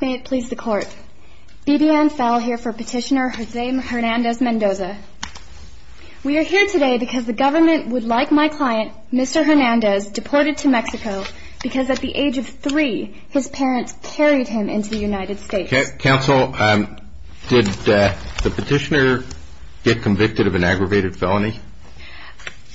May it please the court, BBN Fell here for Petitioner Jose Hernandez-Mendoza. We are here today because the government would like my client, Mr. Hernandez, deported to Mexico because at the age of three his parents carried him into the United States. Counsel, did the petitioner get convicted of an aggravated felony?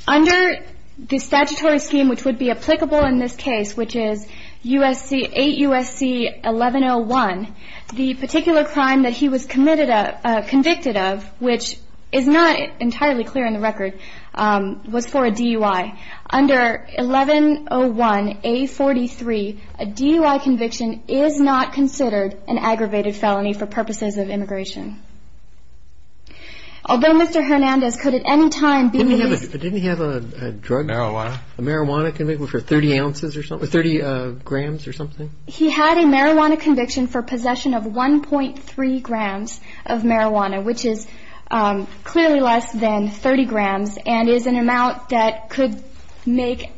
Under the statutory scheme which would be applicable in this case, which is 8 U.S.C. 1101, the particular crime that he was convicted of, which is not entirely clear in the record, was for a DUI. Under 1101A43, a DUI conviction is not considered an aggravated felony for purposes of immigration. Although Mr. Hernandez could at any time be used... Didn't he have a drug? Marijuana. A marijuana conviction for 30 ounces or something, 30 grams or something? He had a marijuana conviction for possession of 1.3 grams of marijuana, which is clearly less than 30 grams and is an amount that could make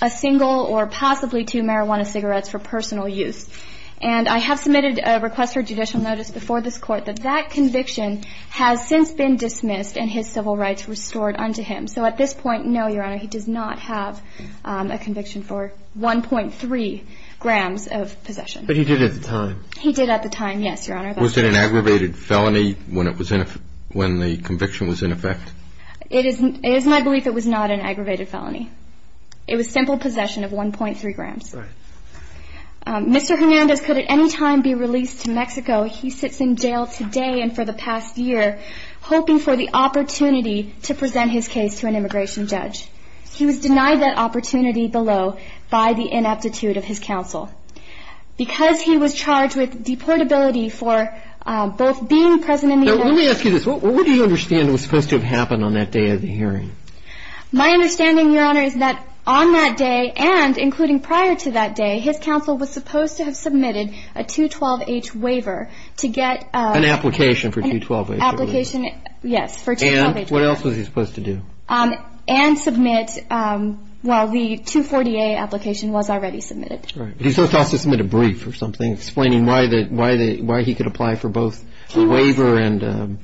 a single or possibly two marijuana cigarettes for personal use. And I have submitted a request for judicial notice before this Court that that conviction has since been dismissed and his civil rights restored unto him. So at this point, no, Your Honor, he does not have a conviction for 1.3 grams of possession. But he did at the time. He did at the time, yes, Your Honor. Was it an aggravated felony when the conviction was in effect? It is my belief it was not an aggravated felony. It was simple possession of 1.3 grams. Right. Mr. Hernandez could at any time be released to Mexico. He sits in jail today and for the past year hoping for the opportunity to present his case to an immigration judge. He was denied that opportunity below by the ineptitude of his counsel. Because he was charged with deportability for both being present in the hearing... Now, let me ask you this. What do you understand was supposed to have happened on that day of the hearing? My understanding, Your Honor, is that on that day and including prior to that day, his counsel was supposed to have submitted a 212-H waiver to get... An application for 212-H. Application, yes, for 212-H. And what else was he supposed to do? And submit, well, the 240-A application was already submitted. Right. He was supposed to also submit a brief or something explaining why he could apply for both waiver and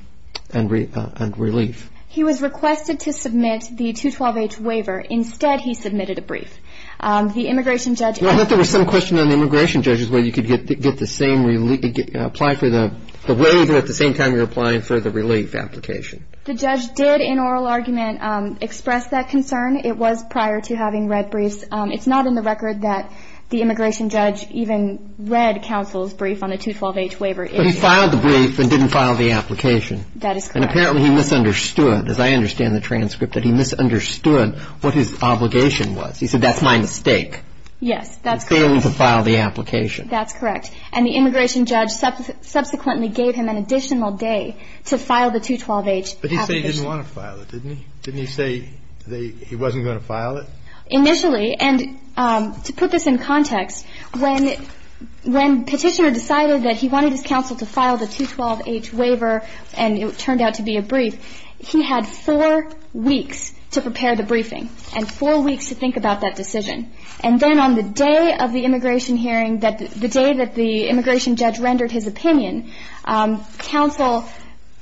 relief. He was requested to submit the 212-H waiver. Instead, he submitted a brief. The immigration judge... I thought there was some question on the immigration judges whether you could get the same relief, apply for the waiver at the same time you're applying for the relief application. The judge did, in oral argument, express that concern. It was prior to having read briefs. It's not in the record that the immigration judge even read counsel's brief on the 212-H waiver. But he filed the brief and didn't file the application. That is correct. And apparently he misunderstood, as I understand the transcript, that he misunderstood what his obligation was. He said, that's my mistake. Yes, that's correct. In failing to file the application. That's correct. And the immigration judge subsequently gave him an additional day to file the 212-H application. But he said he didn't want to file it, didn't he? Didn't he say he wasn't going to file it? Initially, and to put this in context, when Petitioner decided that he wanted his counsel to file the 212-H waiver and it turned out to be a brief, he had four weeks to prepare the briefing and four weeks to think about that decision. And then on the day of the immigration hearing, the day that the immigration judge rendered his opinion, counsel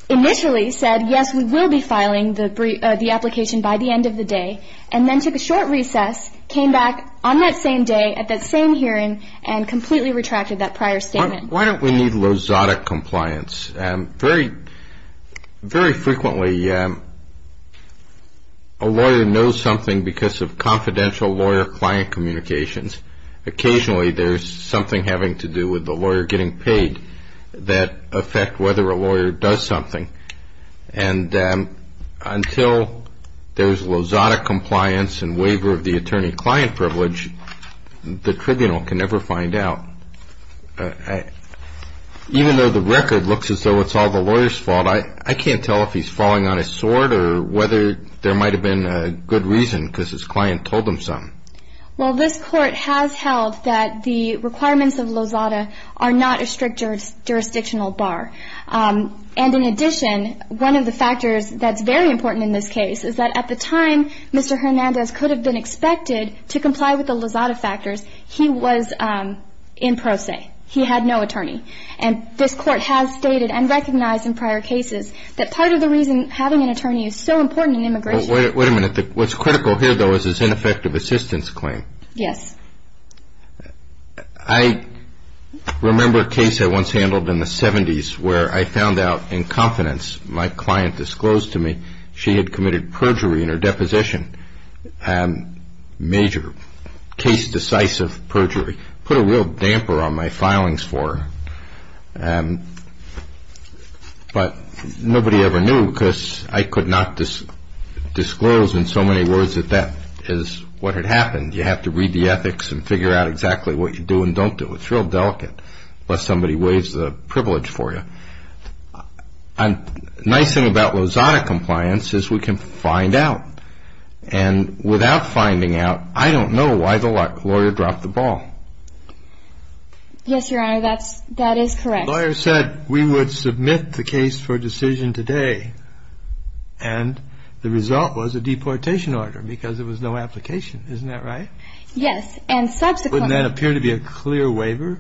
initially said, yes, we will be filing the application by the end of the day, and then took a short recess, came back on that same day, at that same hearing, and completely retracted that prior statement. Why don't we need lozada compliance? Very frequently a lawyer knows something because of confidential lawyer-client communications. Occasionally there's something having to do with the lawyer getting paid that affects whether a lawyer does something. And until there's lozada compliance and waiver of the attorney-client privilege, the tribunal can never find out. Even though the record looks as though it's all the lawyer's fault, I can't tell if he's falling on his sword or whether there might have been a good reason because his client told him something. Well, this Court has held that the requirements of lozada are not a strict jurisdictional bar. And in addition, one of the factors that's very important in this case is that at the time, Mr. Hernandez could have been expected to comply with the lozada factors. He was in pro se. He had no attorney. And this Court has stated and recognized in prior cases that part of the reason having an attorney is so important in immigration. Wait a minute. What's critical here, though, is his ineffective assistance claim. Yes. I remember a case I once handled in the 70s where I found out in confidence my client disclosed to me she had committed perjury in her deposition. Major case-decisive perjury. Put a real damper on my filings for her. But nobody ever knew because I could not disclose in so many words that that is what had happened. And you have to read the ethics and figure out exactly what you do and don't do. It's real delicate unless somebody waives the privilege for you. The nice thing about lozada compliance is we can find out. And without finding out, I don't know why the lawyer dropped the ball. Yes, Your Honor, that is correct. The lawyer said we would submit the case for decision today, and the result was a deportation order because there was no application. Isn't that right? Yes. And subsequently. Wouldn't that appear to be a clear waiver?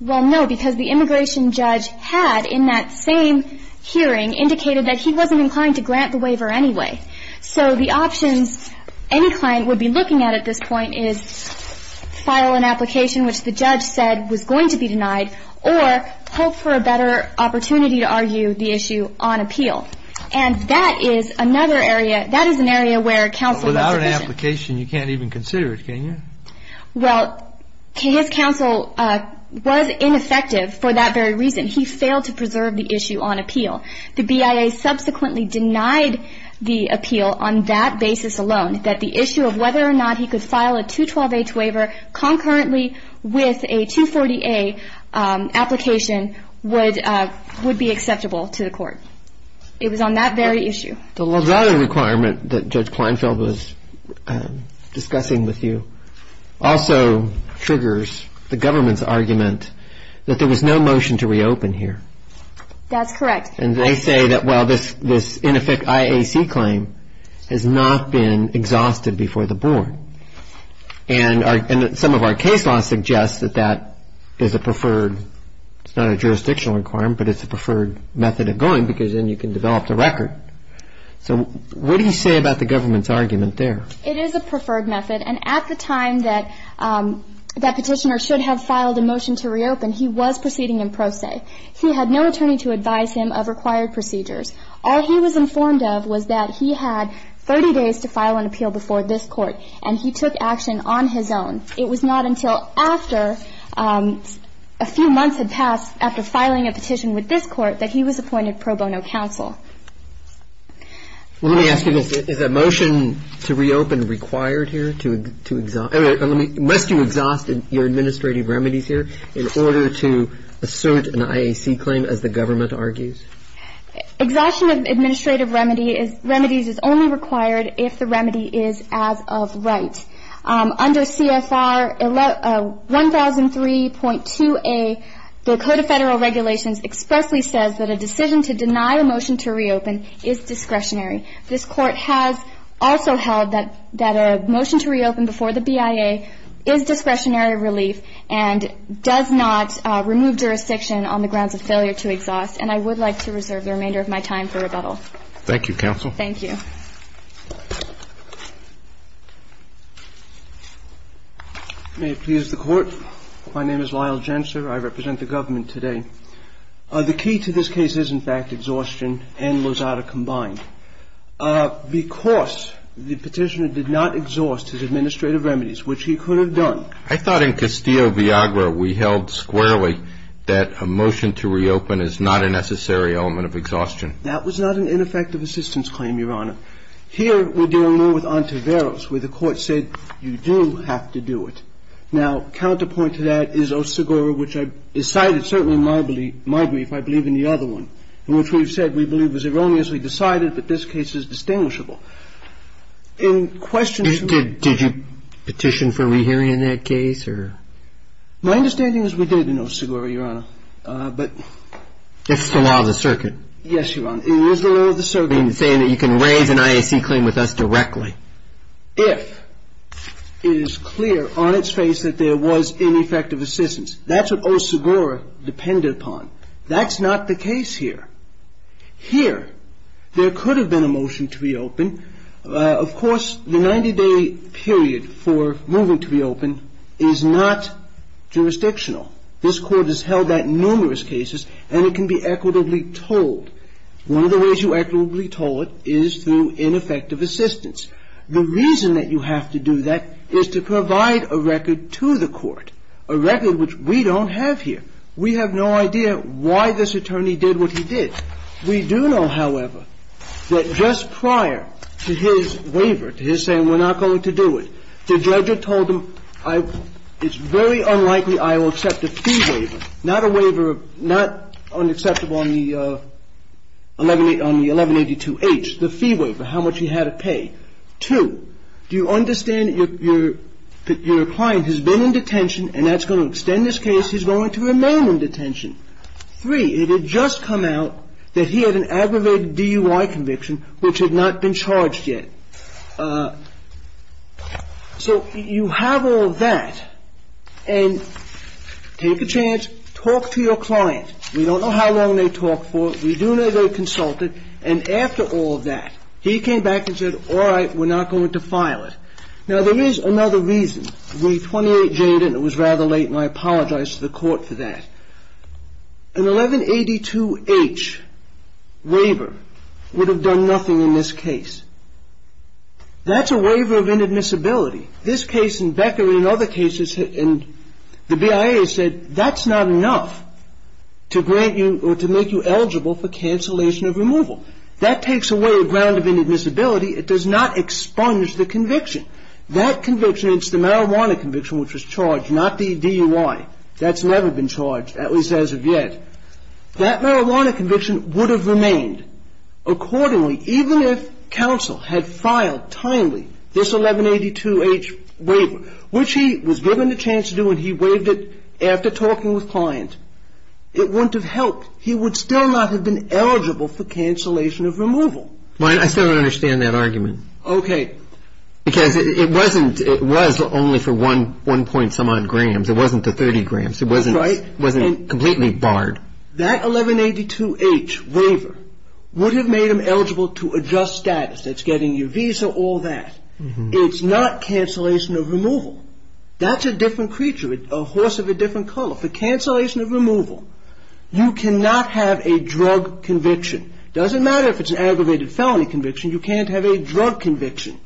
Well, no, because the immigration judge had in that same hearing indicated that he wasn't inclined to grant the waiver anyway. So the options any client would be looking at at this point is file an application which the judge said was going to be denied or hope for a better opportunity to argue the issue on appeal. And that is another area. That is an area where counsel. Without an application, you can't even consider it, can you? Well, his counsel was ineffective for that very reason. He failed to preserve the issue on appeal. The BIA subsequently denied the appeal on that basis alone, that the issue of whether or not he could file a 212-H waiver concurrently with a 240-A application would be acceptable to the court. It was on that very issue. The LaGuardia requirement that Judge Kleinfeld was discussing with you also triggers the government's argument that there was no motion to reopen here. That's correct. And they say that, well, this ineffect IAC claim has not been exhausted before the board. And some of our case law suggests that that is a preferred, it's not a jurisdictional requirement, but it's a preferred method of going because then you can develop the record. So what do you say about the government's argument there? It is a preferred method. And at the time that that petitioner should have filed a motion to reopen, he was proceeding in pro se. He had no attorney to advise him of required procedures. All he was informed of was that he had 30 days to file an appeal before this Court, and he took action on his own. It was not until after a few months had passed after filing a petition with this Court that he was appointed pro bono counsel. Well, let me ask you this. Is a motion to reopen required here to exhaust? Unless you exhaust your administrative remedies here in order to assert an IAC claim, as the government argues? Exhaustion of administrative remedies is only required if the remedy is as of right. Under CFR 1003.2a, the Code of Federal Regulations expressly says that a decision to deny a motion to reopen is discretionary. This Court has also held that a motion to reopen before the BIA is discretionary relief and does not remove jurisdiction on the grounds of failure to exhaust. And I would like to reserve the remainder of my time for rebuttal. Thank you, counsel. Thank you. May it please the Court. My name is Lyle Gensler. I represent the government today. The key to this case is, in fact, exhaustion and Lozada combined. Because the petitioner did not exhaust his administrative remedies, which he could have done. I thought in Castillo-Viagra we held squarely that a motion to reopen is not a necessary element of exhaustion. That was not an ineffective assistance claim, Your Honor. Here we're dealing more with ante veros, where the Court said you do have to do it. Now, counterpoint to that is Osegura, which is cited certainly in my brief. I believe in the other one, in which we've said we believe it was erroneously decided, but this case is distinguishable. In question to the ---- Did you petition for rehearing in that case or ---- My understanding is we did in Osegura, Your Honor, but ---- It's the law of the circuit. Yes, Your Honor. It is the law of the circuit. You're saying that you can raise an IAC claim with us directly. If it is clear on its face that there was ineffective assistance. That's what Osegura depended upon. That's not the case here. Here, there could have been a motion to reopen. Of course, the 90-day period for moving to reopen is not jurisdictional. This Court has held that in numerous cases, and it can be equitably told. One of the ways you equitably told it is through ineffective assistance. The reason that you have to do that is to provide a record to the Court, a record which we don't have here. We have no idea why this attorney did what he did. We do know, however, that just prior to his waiver, to his saying we're not going to do it, the judge had told him, it's very unlikely I will accept a fee waiver. Not a waiver, not unacceptable on the 1182H, the fee waiver, how much he had to pay. Two, do you understand that your client has been in detention, and that's going to extend this case. He's going to remain in detention. Three, it had just come out that he had an aggravated DUI conviction, which had not been charged yet. So you have all that, and take a chance, talk to your client. We don't know how long they talked for. We do know they consulted. And after all that, he came back and said, all right, we're not going to file it. Now, there is another reason. We 28J'd it, and it was rather late, and I apologize to the Court for that. An 1182H waiver would have done nothing in this case. That's a waiver of inadmissibility. This case in Becker and other cases, and the BIA said that's not enough to grant you or to make you eligible for cancellation of removal. That takes away a ground of inadmissibility. It does not expunge the conviction. That conviction, it's the marijuana conviction which was charged, not the DUI. That's never been charged, at least as of yet. That marijuana conviction would have remained accordingly, even if counsel had filed timely this 1182H waiver, which he was given the chance to do and he waived it after talking with client. It wouldn't have helped. He would still not have been eligible for cancellation of removal. I still don't understand that argument. Okay. Because it wasn't, it was only for one point-some-odd grams. It wasn't the 30 grams. Right. It wasn't completely barred. That 1182H waiver would have made him eligible to adjust status. That's getting your visa, all that. It's not cancellation of removal. That's a different creature, a horse of a different color. For cancellation of removal, you cannot have a drug conviction. It doesn't matter if it's an aggravated felony conviction. You can't have a drug conviction.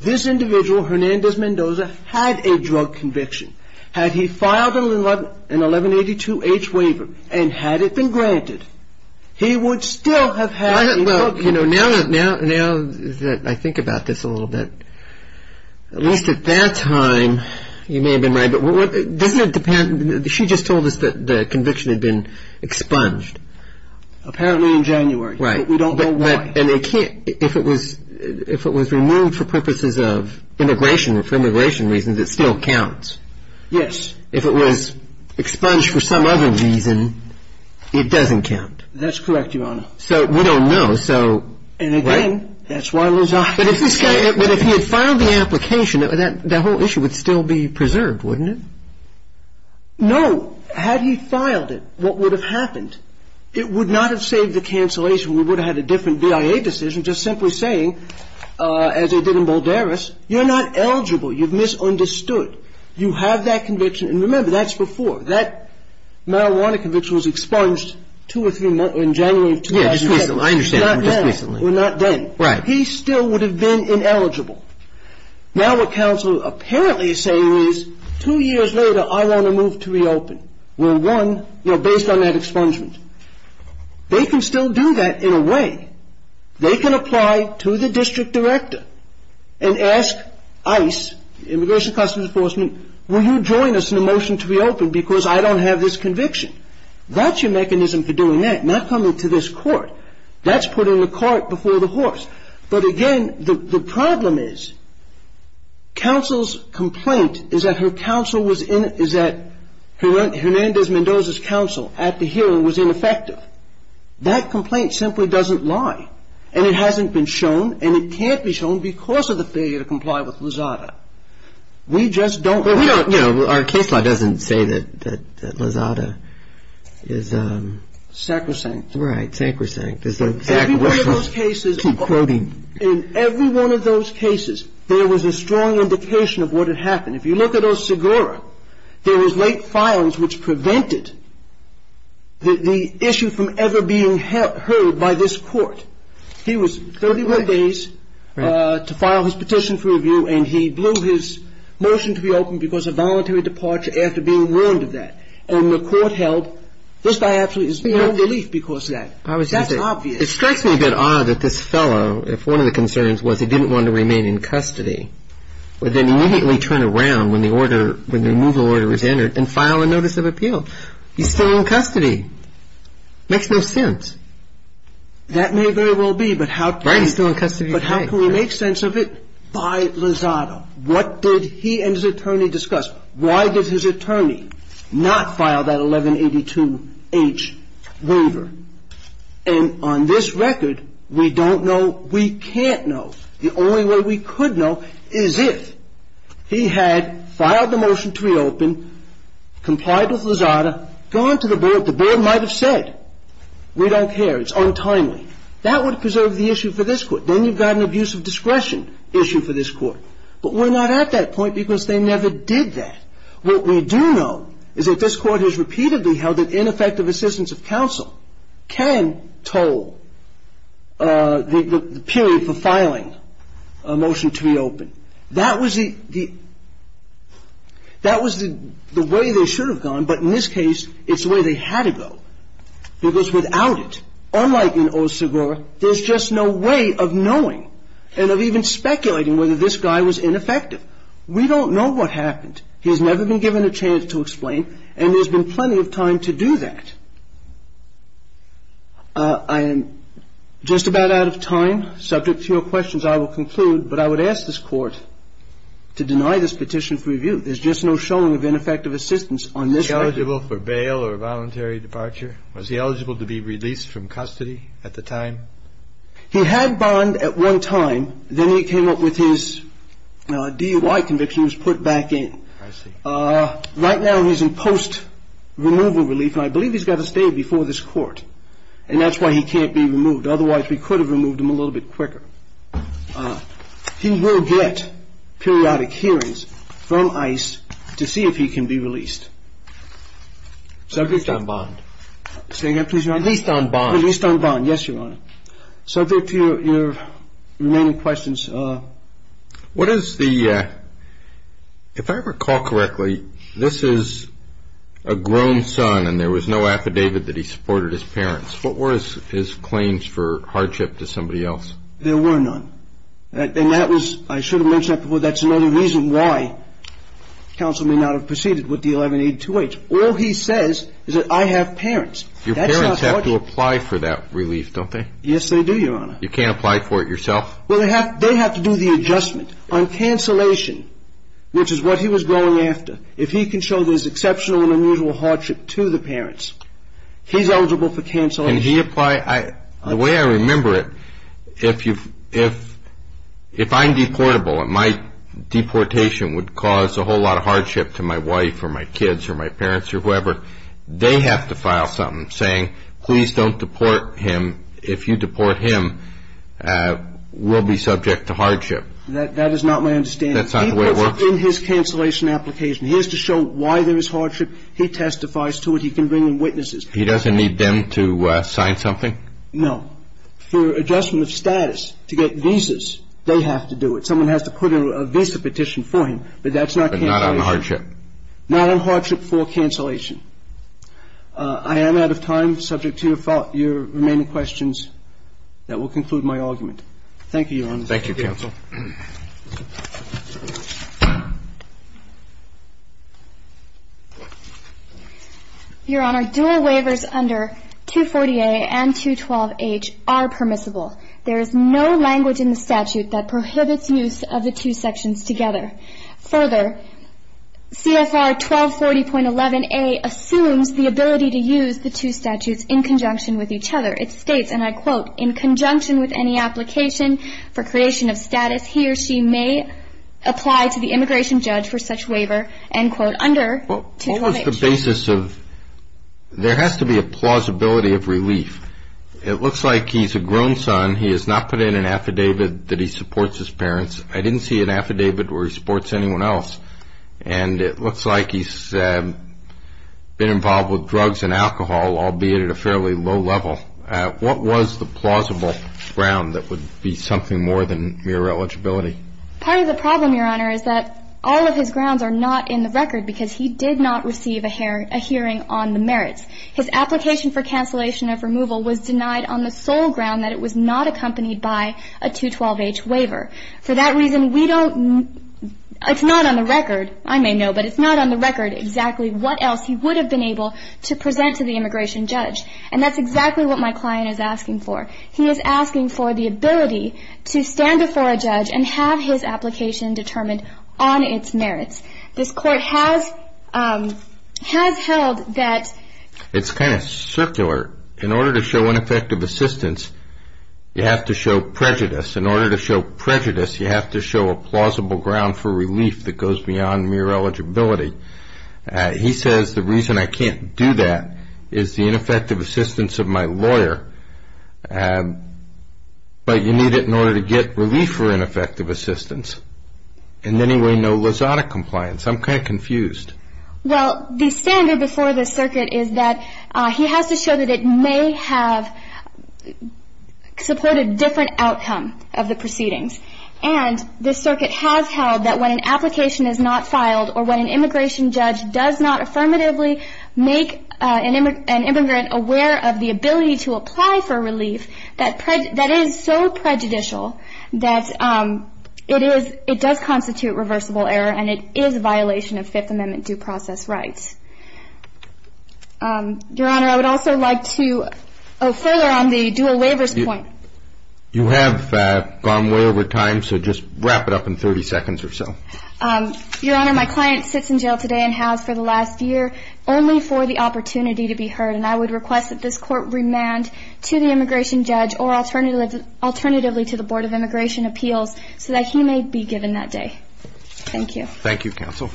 This individual, Hernandez Mendoza, had a drug conviction. Had he filed an 1182H waiver and had it been granted, he would still have had a drug conviction. Now that I think about this a little bit, at least at that time, you may have been right, but doesn't it depend, she just told us that the conviction had been expunged. Apparently in January. Right. But we don't know why. If it was removed for purposes of immigration, for immigration reasons, it still counts. Yes. If it was expunged for some other reason, it doesn't count. That's correct, Your Honor. So we don't know. And again, that's why Lizard. But if he had filed the application, that whole issue would still be preserved, wouldn't it? No. Had he filed it, what would have happened? It would not have saved the cancellation. We would have had a different BIA decision just simply saying, as they did in Boldaris, you're not eligible. You've misunderstood. You have that conviction. And remember, that's before. That marijuana conviction was expunged two or three months, in January of 2007. I understand. Just recently. Well, not then. Right. He still would have been ineligible. Now what counsel apparently is saying is, two years later, I want to move to reopen. We're one, you know, based on that expungement. They can still do that in a way. They can apply to the district director and ask ICE, Immigration Customs Enforcement, will you join us in the motion to reopen because I don't have this conviction? That's your mechanism for doing that, not coming to this court. That's putting the cart before the horse. But again, the problem is, counsel's complaint is that her counsel was in, is that Hernandez-Mendoza's counsel at the hearing was ineffective. That complaint simply doesn't lie, and it hasn't been shown, and it can't be shown because of the failure to comply with Lozada. We just don't. Well, we don't, you know, our case law doesn't say that Lozada is. Sacrosanct. Right, sacrosanct. Every one of those cases, in every one of those cases, there was a strong indication of what had happened. If you look at Osagura, there was late filings which prevented the issue from ever being heard by this court. He was 31 days to file his petition for review, and he blew his motion to reopen because of voluntary departure after being warned of that. And the court held, this guy actually is in no relief because of that. That's obvious. It strikes me a bit odd that this fellow, if one of the concerns was he didn't want to remain in custody, would then immediately turn around when the order, when the removal order was entered and file a notice of appeal. He's still in custody. Makes no sense. That may very well be, but how can we make sense of it by Lozada? What did he and his attorney discuss? Why did his attorney not file that 1182H waiver? And on this record, we don't know. We can't know. The only way we could know is if he had filed the motion to reopen, complied with Lozada, gone to the board. The board might have said, we don't care. It's untimely. That would preserve the issue for this court. Then you've got an abuse of discretion issue for this court. But we're not at that point because they never did that. What we do know is that this court has repeatedly held that ineffective assistance of counsel can toll the period for filing a motion to reopen. That was the way they should have gone, but in this case, it's the way they had to go because without it, unlike in Osagura, there's just no way of knowing and of even speculating whether this guy was ineffective. We don't know what happened. He has never been given a chance to explain, and there's been plenty of time to do that. I am just about out of time. Subject to your questions, I will conclude. But I would ask this Court to deny this petition for review. There's just no showing of ineffective assistance on this record. Was he eligible for bail or voluntary departure? Was he eligible to be released from custody at the time? He had bond at one time. Then he came up with his DUI conviction. He was put back in. Right now, he's in post-removal relief, and I believe he's got to stay before this court, and that's why he can't be removed. Otherwise, we could have removed him a little bit quicker. He will get periodic hearings from ICE to see if he can be released. At least on bond. Say again, please, Your Honor? At least on bond. At least on bond. Yes, Your Honor. Subject to your remaining questions. What is the ‑‑ if I recall correctly, this is a grown son, and there was no affidavit that he supported his parents. What were his claims for hardship to somebody else? There were none. And that was ‑‑ I should have mentioned that before. That's another reason why counsel may not have proceeded with the 1182H. All he says is that I have parents. Your parents have to apply for that relief, don't they? Yes, they do, Your Honor. You can't apply for it yourself? Well, they have to do the adjustment on cancellation, which is what he was going after. If he can show there's exceptional and unusual hardship to the parents, he's eligible for cancellation. Can he apply? The way I remember it, if you've ‑‑ if I'm deportable and my deportation would cause a whole lot of hardship to my wife or my kids or my parents or whoever, they have to file something saying, please don't deport him. If you deport him, we'll be subject to hardship. That is not my understanding. That's not the way it works? He puts it in his cancellation application. He has to show why there is hardship. He testifies to it. He can bring in witnesses. He doesn't need them to sign something? No. For adjustment of status to get visas, they have to do it. Someone has to put in a visa petition for him, but that's not cancellation. But not on hardship? Not on hardship for cancellation. I am out of time. Subject to your remaining questions. That will conclude my argument. Thank you, Your Honor. Thank you, counsel. Your Honor, dual waivers under 240A and 212H are permissible. There is no language in the statute that prohibits use of the two sections together. Further, CFR 1240.11A assumes the ability to use the two statutes in conjunction with each other. It states, and I quote, in conjunction with any application for creation of status he or she may apply to the immigration judge for such waiver. End quote. Under 212H. What was the basis of, there has to be a plausibility of relief. It looks like he's a grown son. He has not put in an affidavit that he supports his parents. I didn't see an affidavit where he supports anyone else. And it looks like he's been involved with drugs and alcohol, albeit at a fairly low level. What was the plausible ground that would be something more than mere eligibility? Part of the problem, Your Honor, is that all of his grounds are not in the record because he did not receive a hearing on the merits. His application for cancellation of removal was denied on the sole ground that it was not accompanied by a 212H waiver. For that reason, we don't, it's not on the record, I may know, but it's not on the record exactly what else he would have been able to present to the immigration judge. And that's exactly what my client is asking for. He is asking for the ability to stand before a judge and have his application determined on its merits. This Court has held that. It's kind of circular. In order to show ineffective assistance, you have to show prejudice. In order to show prejudice, you have to show a plausible ground for relief that goes beyond mere eligibility. He says the reason I can't do that is the ineffective assistance of my lawyer, but you need it in order to get relief for ineffective assistance. In any way, no Lozada compliance. I'm kind of confused. Well, the standard before this circuit is that he has to show that it may have supported a different outcome of the proceedings. And this circuit has held that when an application is not filed or when an immigration judge does not affirmatively make an immigrant aware of the ability to apply for relief, that is so prejudicial that it does constitute reversible error, and it is a violation of Fifth Amendment due process rights. Your Honor, I would also like to go further on the dual waivers point. You have gone way over time, so just wrap it up in 30 seconds or so. Your Honor, my client sits in jail today and has for the last year only for the opportunity to be heard, and I would request that this Court remand to the immigration judge or alternatively to the Board of Immigration Appeals so that he may be given that day. Thank you. Thank you, counsel.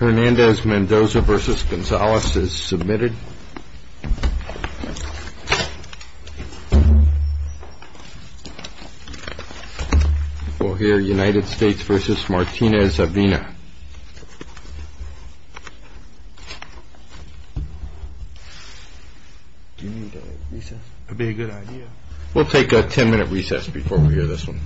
Hernandez-Mendoza v. Gonzalez is submitted. We'll hear United States v. Martinez-Avina. Do you need a recess? That would be a good idea. We'll take a 10-minute recess before we hear this one. All rise. This Court is going to recess for 10 minutes.